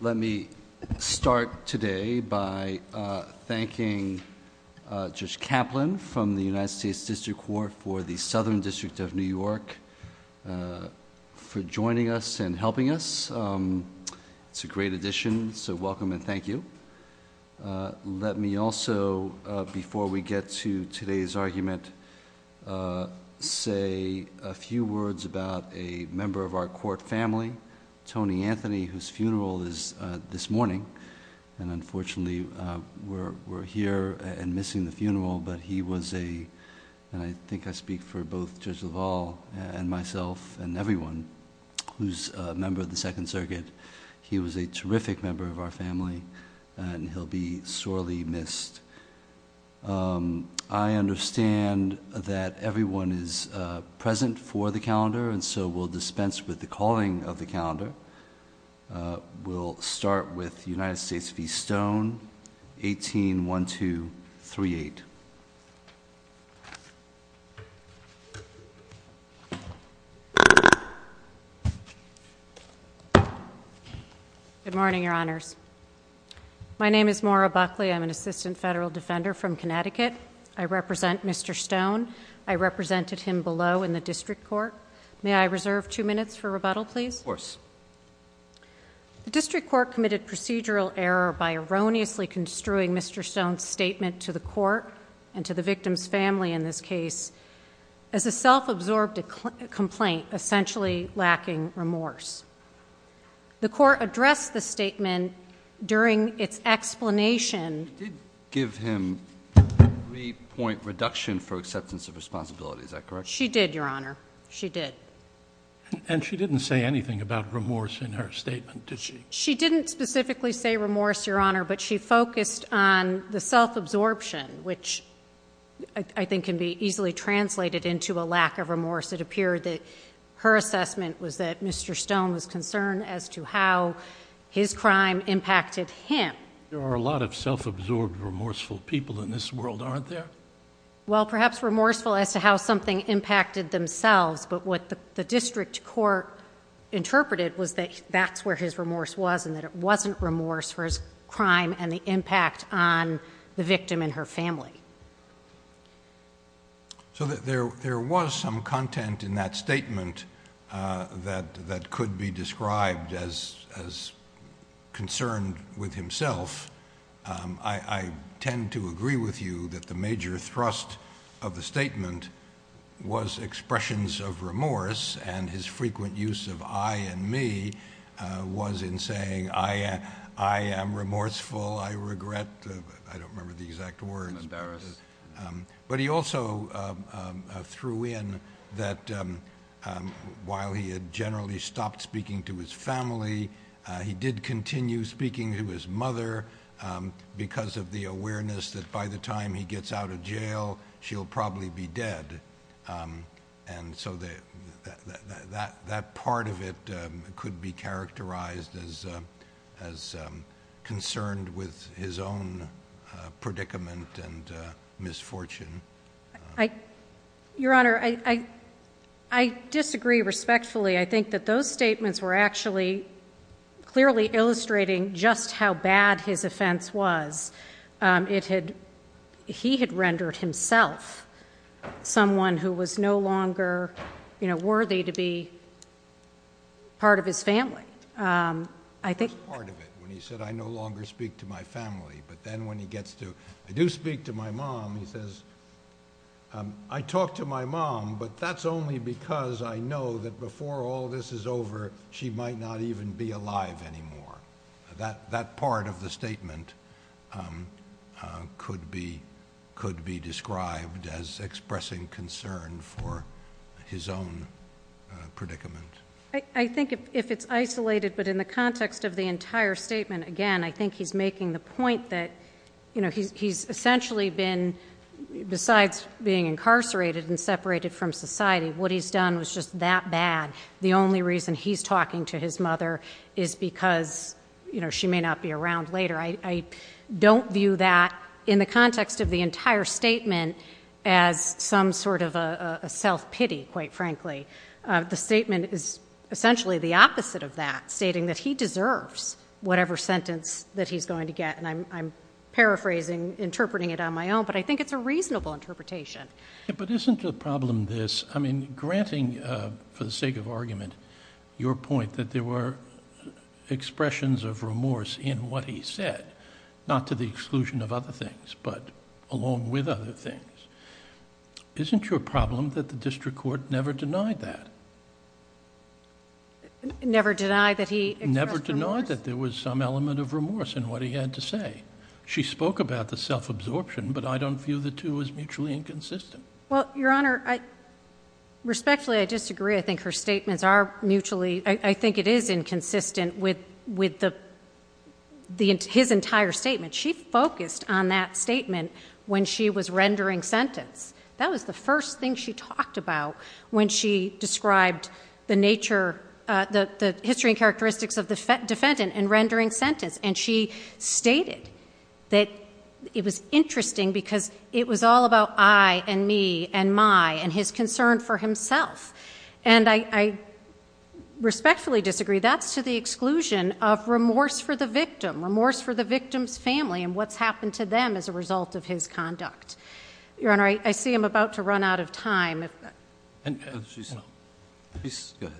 Let me start today by thanking Judge Kaplan from the United States District Court for the Southern District of New York for joining us and helping us. It's a great addition, so welcome and thank you. Let me also, before we get to today's argument, say a few words about a member of our court family, Tony Anthony, whose funeral is this morning and unfortunately we're here and missing the funeral, but he was a, and I think I speak for both Judge LaValle and myself and everyone, who's a member of the Second Circuit, he was a terrific member of our family and he'll be sorely missed. I understand that everyone is present for the calendar and so we'll start with United States v. Stone, 18-1238. MAURA BUCKLEY. Good morning, Your Honors. My name is Maura Buckley. I'm an Assistant Federal Defender from Connecticut. I represent Mr. Stone. I represented him below in the District Court. May I reserve two minutes for rebuttal, please? JUDGE LEBEN. Yes, of course. MAURA BUCKLEY. The District Court committed procedural error by erroneously construing Mr. Stone's statement to the court and to the victim's family in this case as a self-absorbed complaint, essentially lacking remorse. The court addressed the statement during its explanation. JUDGE LEBEN. You did give him a three-point reduction for acceptance of responsibility. Is that correct? MAURA BUCKLEY. She did, Your Honor. She did. JUDGE LEBEN. And she didn't say anything about remorse in her statement, did she? MAURA BUCKLEY. She didn't specifically say remorse, Your Honor, but she focused on the self-absorption, which I think can be easily translated into a lack of remorse. It appeared that her assessment was that Mr. Stone was concerned as to how his crime impacted him. JUDGE LEBEN. There are a lot of self-absorbed, remorseful people in this world, aren't there? MAURA BUCKLEY. Well, perhaps remorseful as to how something impacted themselves, but what the district court interpreted was that that's where his remorse was and that it wasn't remorse for his crime and the impact on the victim and her family. JUDGE LEBEN. So there was some content in that statement that could be described as concerned with himself. I tend to agree with you that the point was expressions of remorse, and his frequent use of I and me was in saying, I am remorseful, I regret, I don't remember the exact words, but he also threw in that while he had generally stopped speaking to his family, he did continue speaking to his mother because of the awareness that by the time he gets out of jail, she'll probably be dead, and so that part of it could be characterized as concerned with his own predicament MAURA BUCKLEY. Your Honor, I disagree respectfully. I think that those statements were actually clearly illustrating just how bad his offense was. It had, he had rendered himself someone who was no longer, you know, worthy to be part of his family. I think... JUDGE LEBEN. Part of it, when he said, I no longer speak to my family, but then when he gets to, I do speak to my mom, he says, I talk to my mom, but that's only because I know that before all this is over, she might not even be alive anymore. That part of the statement could be described as expressing concern for his own predicament. MAURA BUCKLEY. I think if it's isolated, but in the context of the entire statement, again, I think he's making the point that, you know, he's essentially been, besides being incarcerated and separated from society, what he's done was just that bad. The only reason he's talking to his mother is because, you know, she may not be around later. I don't view that in the context of the entire statement as some sort of a self-pity, quite frankly. The statement is essentially the opposite of that, stating that he deserves whatever sentence that he's going to get. And I'm paraphrasing, interpreting it on my own, but I think it's a reasonable interpretation. JUDGE LEBEN. Yeah, but isn't the problem this? I mean, granting, for the sake of argument, your point that there were expressions of remorse in what he said, not to the exclusion of other things, but along with other things. Isn't your problem that the district court never denied that? MAURA BUCKLEY. Never denied that he expressed remorse? JUDGE LEBEN. Never denied that there was some element of remorse in what he had to say. She spoke about the self-absorption, but I don't view the two as mutually inconsistent. MAURA BUCKLEY. Well, Your Honor, respectfully, I disagree. I think her statements are mutually—I think it is inconsistent with his entire statement. She focused on that statement when she was rendering sentence. That was the first thing she talked about when she described the nature—the history and characteristics of the defendant in rendering sentence. And she stated that it was interesting because it was all about I and me and my and his concern for himself. And I respectfully disagree. That's to the exclusion of remorse for the victim, remorse for the victim's family and what's happened to them as a result of his conduct. Your Honor, I see I'm about to run out of time. JUDGE LEBEN.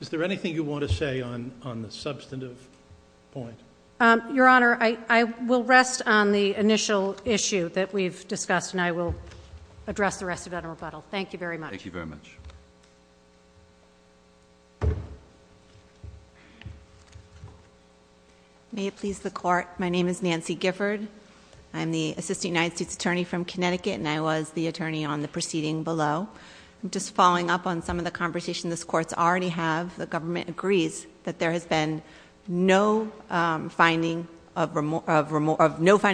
Is there anything you want to say on the substantive point? MAURA BUCKLEY. Your Honor, I will rest on the initial issue that we've discussed, and I will address the rest of that in rebuttal. Thank you very much. JUDGE LEBEN. Thank you very much. NANCY GIFFORD. May it please the Court, my name is Nancy Gifford. I'm the Assistant United States Attorney from Connecticut, and I was the attorney on the proceeding below. I'm just following up on some of the conversation this Court's already had. The government agrees that there has been no finding of remorse,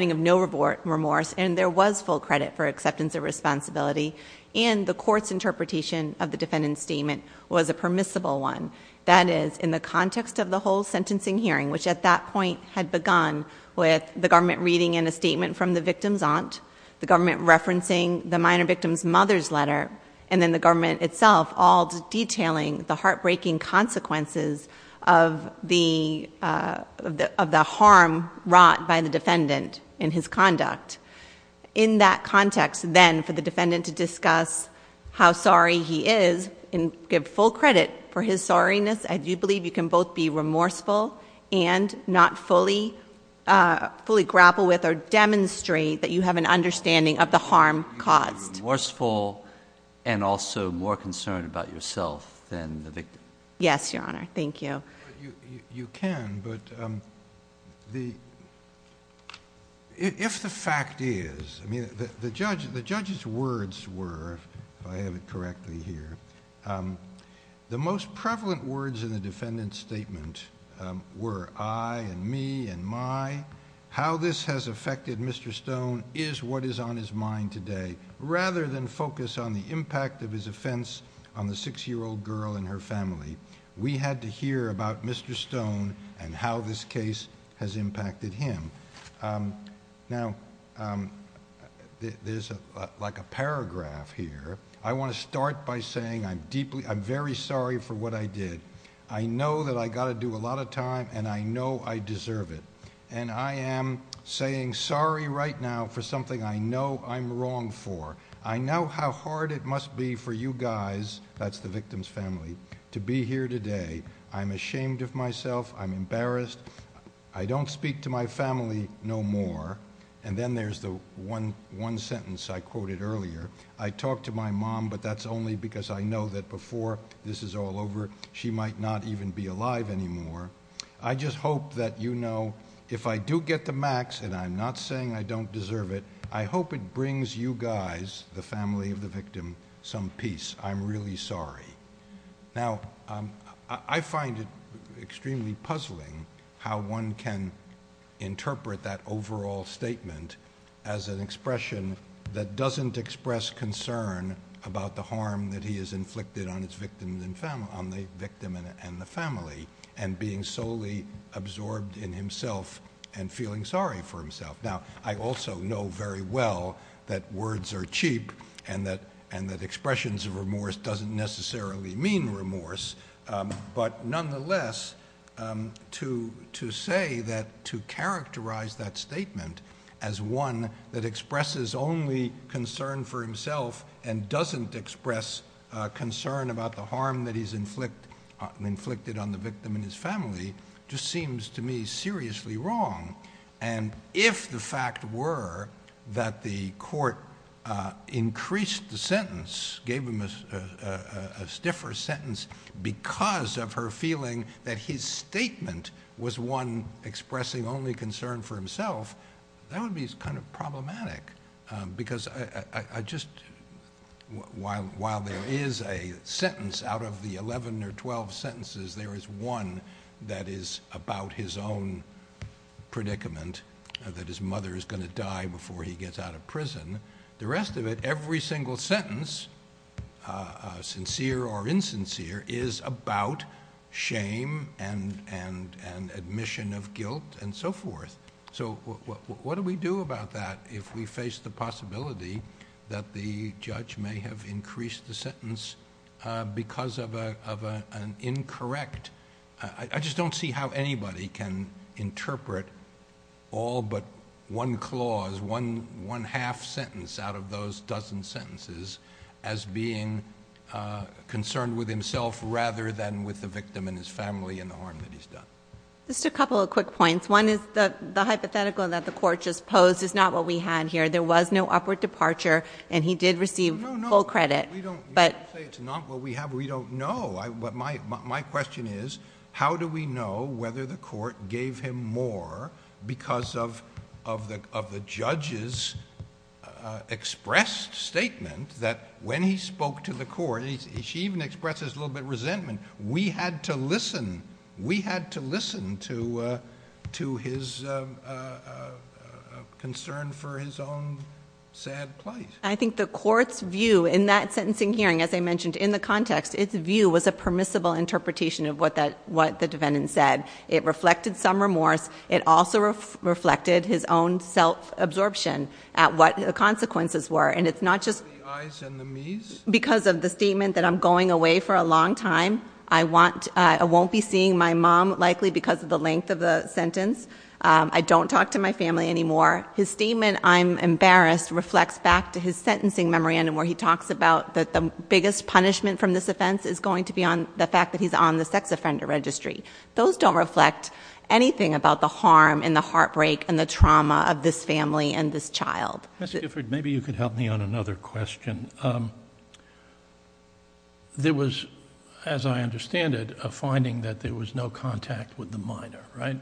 and there was full credit for acceptance of responsibility, and the Court's interpretation of the defendant's statement was a permissible one. That is, in the context of the whole sentencing hearing, which at that point had begun with the government reading in a statement from the victim's aunt, the government referencing the minor victim's mother's letter, and then the government itself all detailing the heartbreaking consequences of the harm wrought by the defendant in his conduct. In that context, then, for the defendant to discuss how sorry he is and give full credit for his sorriness, I do believe you can both be remorseful and not fully grapple with or demonstrate that you have an understanding of the harm caused. You can be remorseful and also more concerned about yourself than the victim. Yes, Your Honor. Thank you. You can, but if the fact is... The judge's words were, if I have it correctly here, the most prevalent words in the defendant's statement were, I and me and my. How this has affected Mr. Stone is what is on his mind today. Rather than focus on the impact of his offense on the six-year-old girl and her family, we had to hear about Mr. Stone and how this case has impacted him. Now, there's like a paragraph here. I want to start by saying I'm very sorry for what I did. I know that I got to do a lot of time, and I know I deserve it. I am saying sorry right now for something I know I'm wrong for. I know how hard it must be for you guys, that's the victim's family, to be here today. I'm ashamed of myself. I'm embarrassed. I don't speak to my family no more. And then there's the one sentence I quoted earlier. I talk to my mom, but that's only because I know that before this is all over, she might not even be alive anymore. I just don't deserve it. I hope it brings you guys, the family of the victim, some peace. I'm really sorry. Now, I find it extremely puzzling how one can interpret that overall statement as an expression that doesn't express concern about the harm that he has inflicted on the victim and the family, and being solely absorbed in himself and feeling sorry for himself. Now, I also know very well that words are cheap and that expressions of remorse doesn't necessarily mean remorse, but nonetheless, to say that, to characterize that statement as one that expresses only concern for himself and doesn't express concern about the harm that he's inflicted on the victim and his family, just seems to me seriously wrong. And if the fact were that the court increased the sentence, gave him a stiffer sentence, because of her feeling that his statement was one expressing only concern for himself, that would be kind of problematic, because I just... While there is a sentence out of the 11 or 12 sentences, there is one that is about his own predicament, that his mother is going to die before he gets out of prison. The rest of it, every single sentence, sincere or insincere, is about shame and admission of guilt and so forth. What do we do about that if we face the possibility that the judge may have increased the sentence because of an incorrect... I just don't see how anybody can interpret all but one clause, one half sentence out of those dozen sentences, as being concerned with himself rather than with the victim and his family and the harm that he's done. Just a couple of quick points. One is the hypothetical that the court just posed is not what we had here. There was no upward departure and he did receive full credit, but... We don't say it's not what we have. We don't know. My question is, how do we know whether the court gave him more because of the judge's expressed statement that when he spoke to the court, and she even expresses a little bit of resentment, we had to listen. We had to listen to his concern for his own sad plight. I think the court's view in that sentencing hearing, as I mentioned, in the context, its view was a permissible interpretation of what the defendant said. It reflected some remorse. It also reflected his own self-absorption at what the consequences were. It's not just... The I's and the me's? Because of the statement that I'm going away for a long time. I won't be seeing my mom likely because of the length of the sentence. I don't talk to my family anymore. His statement, I'm embarrassed, reflects back to his sentencing memorandum where he talks about that the biggest punishment from this offense is going to be the fact that he's on the sex offender registry. Those don't reflect anything about the harm and the heartbreak and the trauma of this family and this child. Ms. Gifford, maybe you could help me on another question. There was, as I understand it, a finding that there was no contact with the minor, right?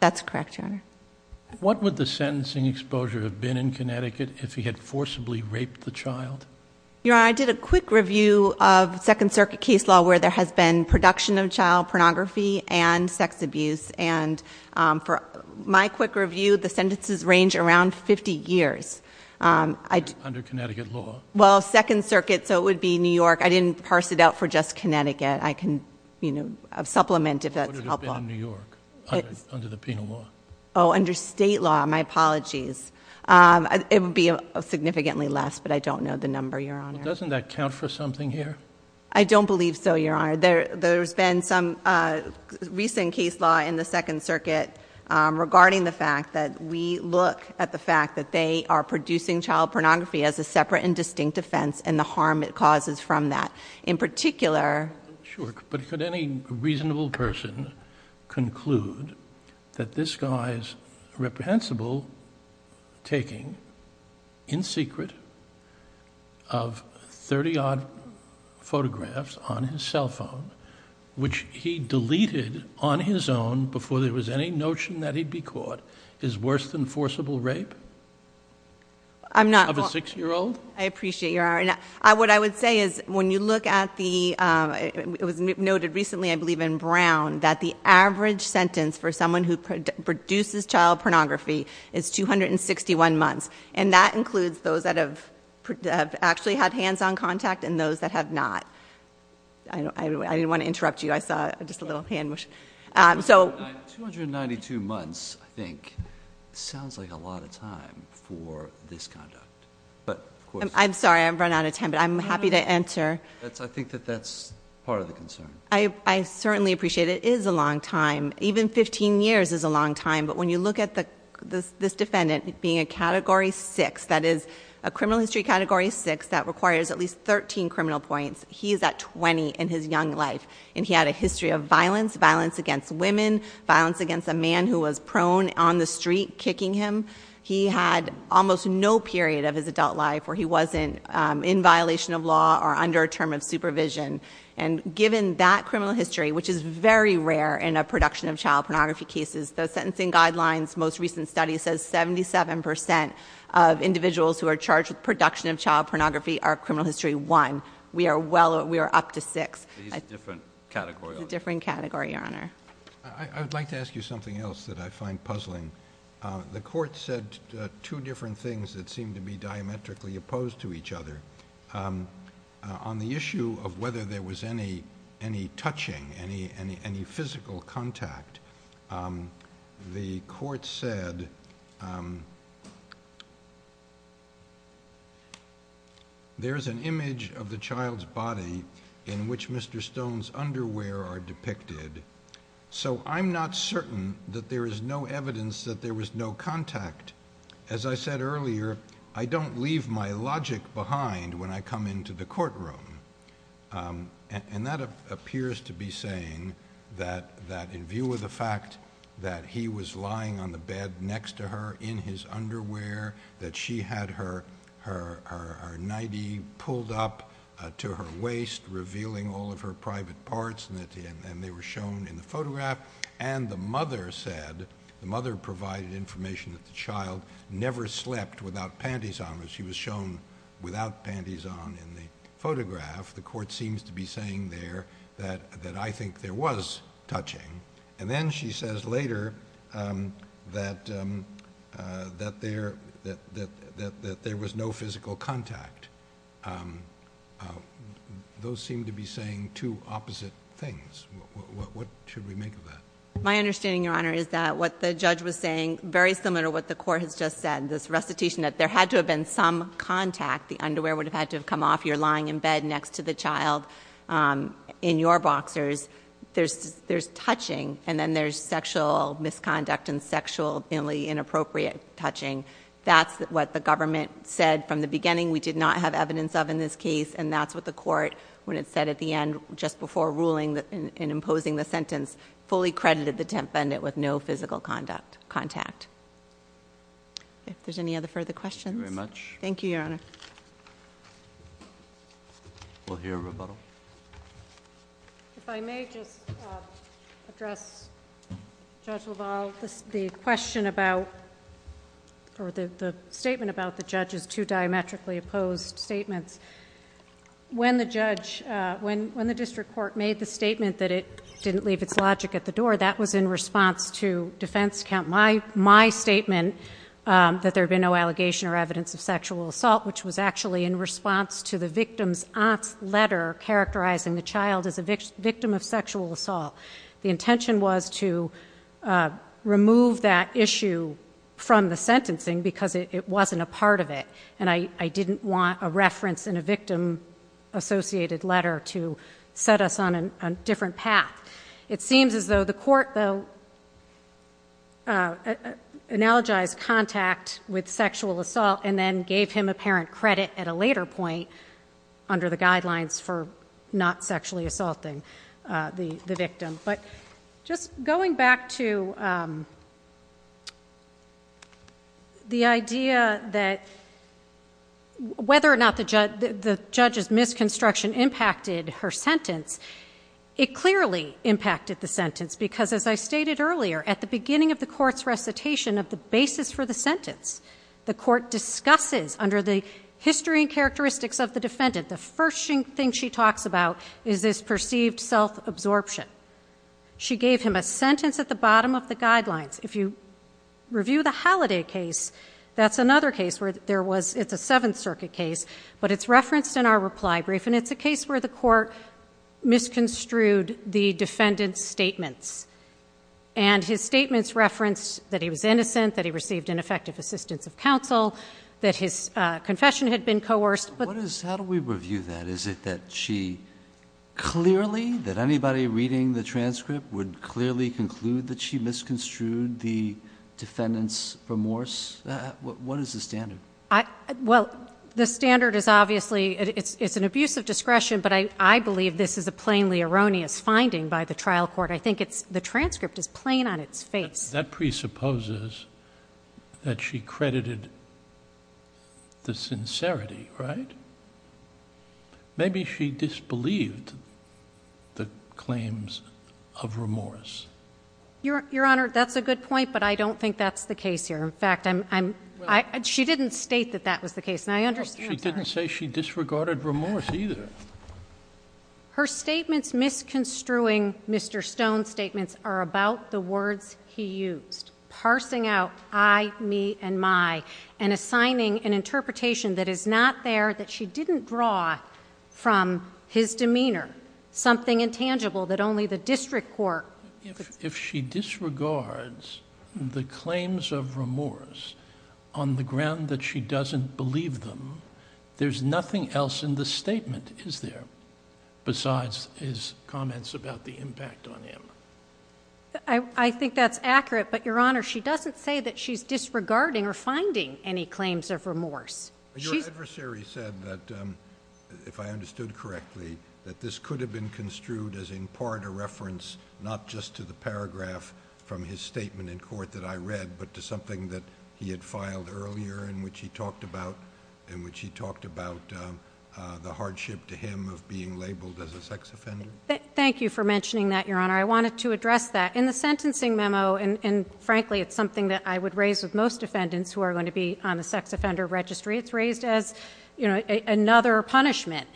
That's correct, Your Honor. What would the sentencing exposure have been in Connecticut if he had forcibly raped the child? Your Honor, I did a quick review of Second Circuit case law where there has been production of child pornography and sex abuse. For my quick review, the sentences range around 50 years. Under Connecticut law? Well, Second Circuit, so it would be New York. I didn't parse it out for just Connecticut. I can supplement if that's helpful. What would it have been in New York under the penal law? Oh, under state law. My apologies. It would be significantly less, but I don't know the number, Your Honor. Doesn't that count for something here? I don't believe so, Your Honor. There's been some recent case law in the Second Circuit regarding the fact that we look at the fact that they are producing child pornography as a separate and distinct offense and the harm it causes from that. In particular... He denies reprehensible taking, in secret, of 30-odd photographs on his cell phone, which he deleted on his own before there was any notion that he'd be caught, is worse than forcible rape of a six-year-old? I appreciate your... What I would say is when you look at the... It was noted recently, I believe, in Brown that the average sentence for someone who produces child pornography is 261 months. That includes those that have actually had hands-on contact and those that have not. I didn't want to interrupt you. I saw just a little hand motion. 292 months, I think, sounds like a lot of time for this conduct, but of course... I'm sorry. I've run out of time, but I'm happy to answer. I think that that's part of the concern. I certainly appreciate it is a long time. Even 15 years is a long time, but when you look at this defendant being a Category 6, that is a criminal history Category 6 that requires at least 13 criminal points, he's at 20 in his young life. He had a history of violence, violence against women, violence against a man who was prone on the street kicking him. He had almost no period of his adult life where he wasn't in violation of that criminal history, which is very rare in a production of child pornography cases. The Sentencing Guidelines most recent study says 77 percent of individuals who are charged with production of child pornography are criminal history 1. We are up to 6. He's a different category, though. He's a different category, Your Honor. I would like to ask you something else that I find puzzling. The Court said two different things that seem to be diametrically opposed to each other. On the issue of whether there was any touching, any physical contact, the Court said there's an image of the child's body in which Mr. Stone's underwear are depicted, so I'm not certain that there is no evidence that there was no contact. As I said earlier, I don't leave my logic behind when I come into the courtroom, and that appears to be saying that in view of the fact that he was lying on the bed next to her in his underwear, that she had her nightie pulled up to her waist revealing all of her private parts, and they were shown in the photograph, and the mother said, the mother provided information that the child never slept without panties on. She was shown without panties on in the photograph. The Court seems to be saying there that I think there was touching, and then she says later that there was no physical contact. Those seem to be saying two opposite things. What should we make of that? My understanding, Your Honor, is that what the judge was saying, very similar to what the Court has just said, this recitation that there had to have been some contact. The underwear would have had to have come off. You're lying in bed next to the child in your boxers. There's touching, and then there's sexual misconduct and sexually inappropriate touching. That's what the government said from the beginning. We did not have evidence of in this case, and that's what the Court, when it said at the end, just before ruling that... in imposing the sentence, fully credited the defendant with no physical contact. If there's any other further questions... Thank you very much. Thank you, Your Honor. We'll hear a rebuttal. If I may just address Judge LaValle, the statement about the judge's two diametrically opposed statements. When the district court made the statement that it didn't leave its logic at the door, that was in response to defense count my statement that there had been no allegation or evidence of sexual assault, which was actually in response to the victim's aunt's letter characterizing the child as a victim of sexual assault. The intention was to remove that issue from the sentencing because it wasn't a part of it, and I didn't want a reference in a victim-associated letter to set us on a different path. It seems as though the Court, though, analogized contact with sexual assault and then gave him apparent credit at a later point under the guidelines for not sexually assaulting the victim. But just going back to the idea that whether or not the judge's misconstruction impacted her sentence, it clearly impacted the sentence because, as I stated earlier, at the beginning of the Court's recitation of the basis for the sentence, the Court discusses under the history and characteristics of the defendant, the first thing she talks about is this perceived self-absorption. She gave him a sentence at the bottom of the guidelines. If you review the Halliday case, that's another case where there was, it's a Seventh Circuit case, but it's referenced in our reply brief, and it's a case where the Court misconstrued the defendant's statements. And his statements reference that he was innocent, that he received ineffective assistance of counsel, that his confession had been coerced. But how do we review that? Is it that she clearly, that anybody reading the transcript would clearly conclude that she misconstrued the defendant's remorse? What is the standard? Well, the standard is obviously, it's an abuse of discretion, but I believe this is a plainly erroneous finding by the trial court. I think the transcript is plain on its face. That presupposes that she credited the sincerity, right? Maybe she disbelieved the claims of remorse. Your Honor, that's a good point, but I don't think that's the case here. In fact, I'm, she didn't state that that was the case, and I understand. She didn't say she disregarded remorse either. Her statements misconstruing Mr. Stone's statements are about the words he used, parsing out I, me, and my, and assigning an interpretation that is not there, that she didn't draw from his demeanor, something intangible that only the district court could— If she disregards the claims of remorse on the ground that she doesn't believe them, there's nothing else in the statement, is there, besides his comments about the impact on him? I think that's accurate, but, Your Honor, she doesn't say that she's disregarding or finding any claims of remorse. Your adversary said that, if I understood correctly, that this could have been construed as, in part, a reference, not just to the paragraph from his statement in court that I read, but to something that he had filed earlier in which he talked about, in which he talked about the hardship to him of being labeled as a sex offender. Thank you for mentioning that, Your Honor. I wanted to address that. In the sentencing memo, and frankly, it's something that I would raise with most defendants who are going to be on the sex offender registry. It's raised as, you know, another punishment.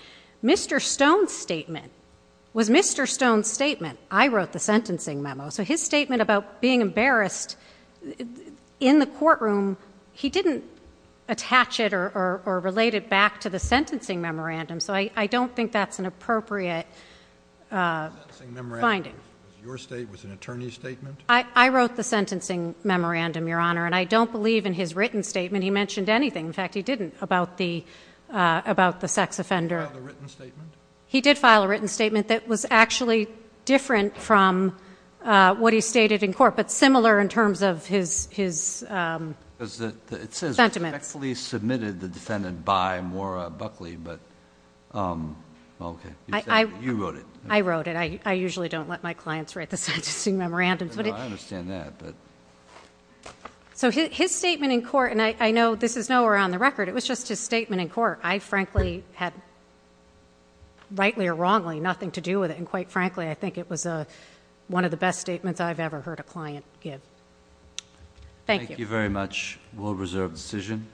Mr. Stone's statement was Mr. Stone's statement. I wrote the sentencing memo, so his statement about being embarrassed in the courtroom, he didn't attach it or relate it back to the sentencing memorandum, so I don't think that's an appropriate finding. Your state was an attorney's statement? I wrote the sentencing memorandum, Your Honor, and I don't believe in his written statement he mentioned anything. In fact, he didn't about the sex offender. He filed a written statement? He filed a written statement that was actually different from what he stated in court, but similar in terms of his sentiments. It says, respectfully submitted the defendant by Maura Buckley. Okay, you wrote it. I wrote it. I usually don't let my clients write the sentencing memorandum. I understand that. So his statement in court, and I know this is nowhere on the record, it was just his rightly or wrongly, nothing to do with it, and quite frankly, I think it was one of the best statements I've ever heard a client give. Thank you. Thank you very much. We'll reserve the decision.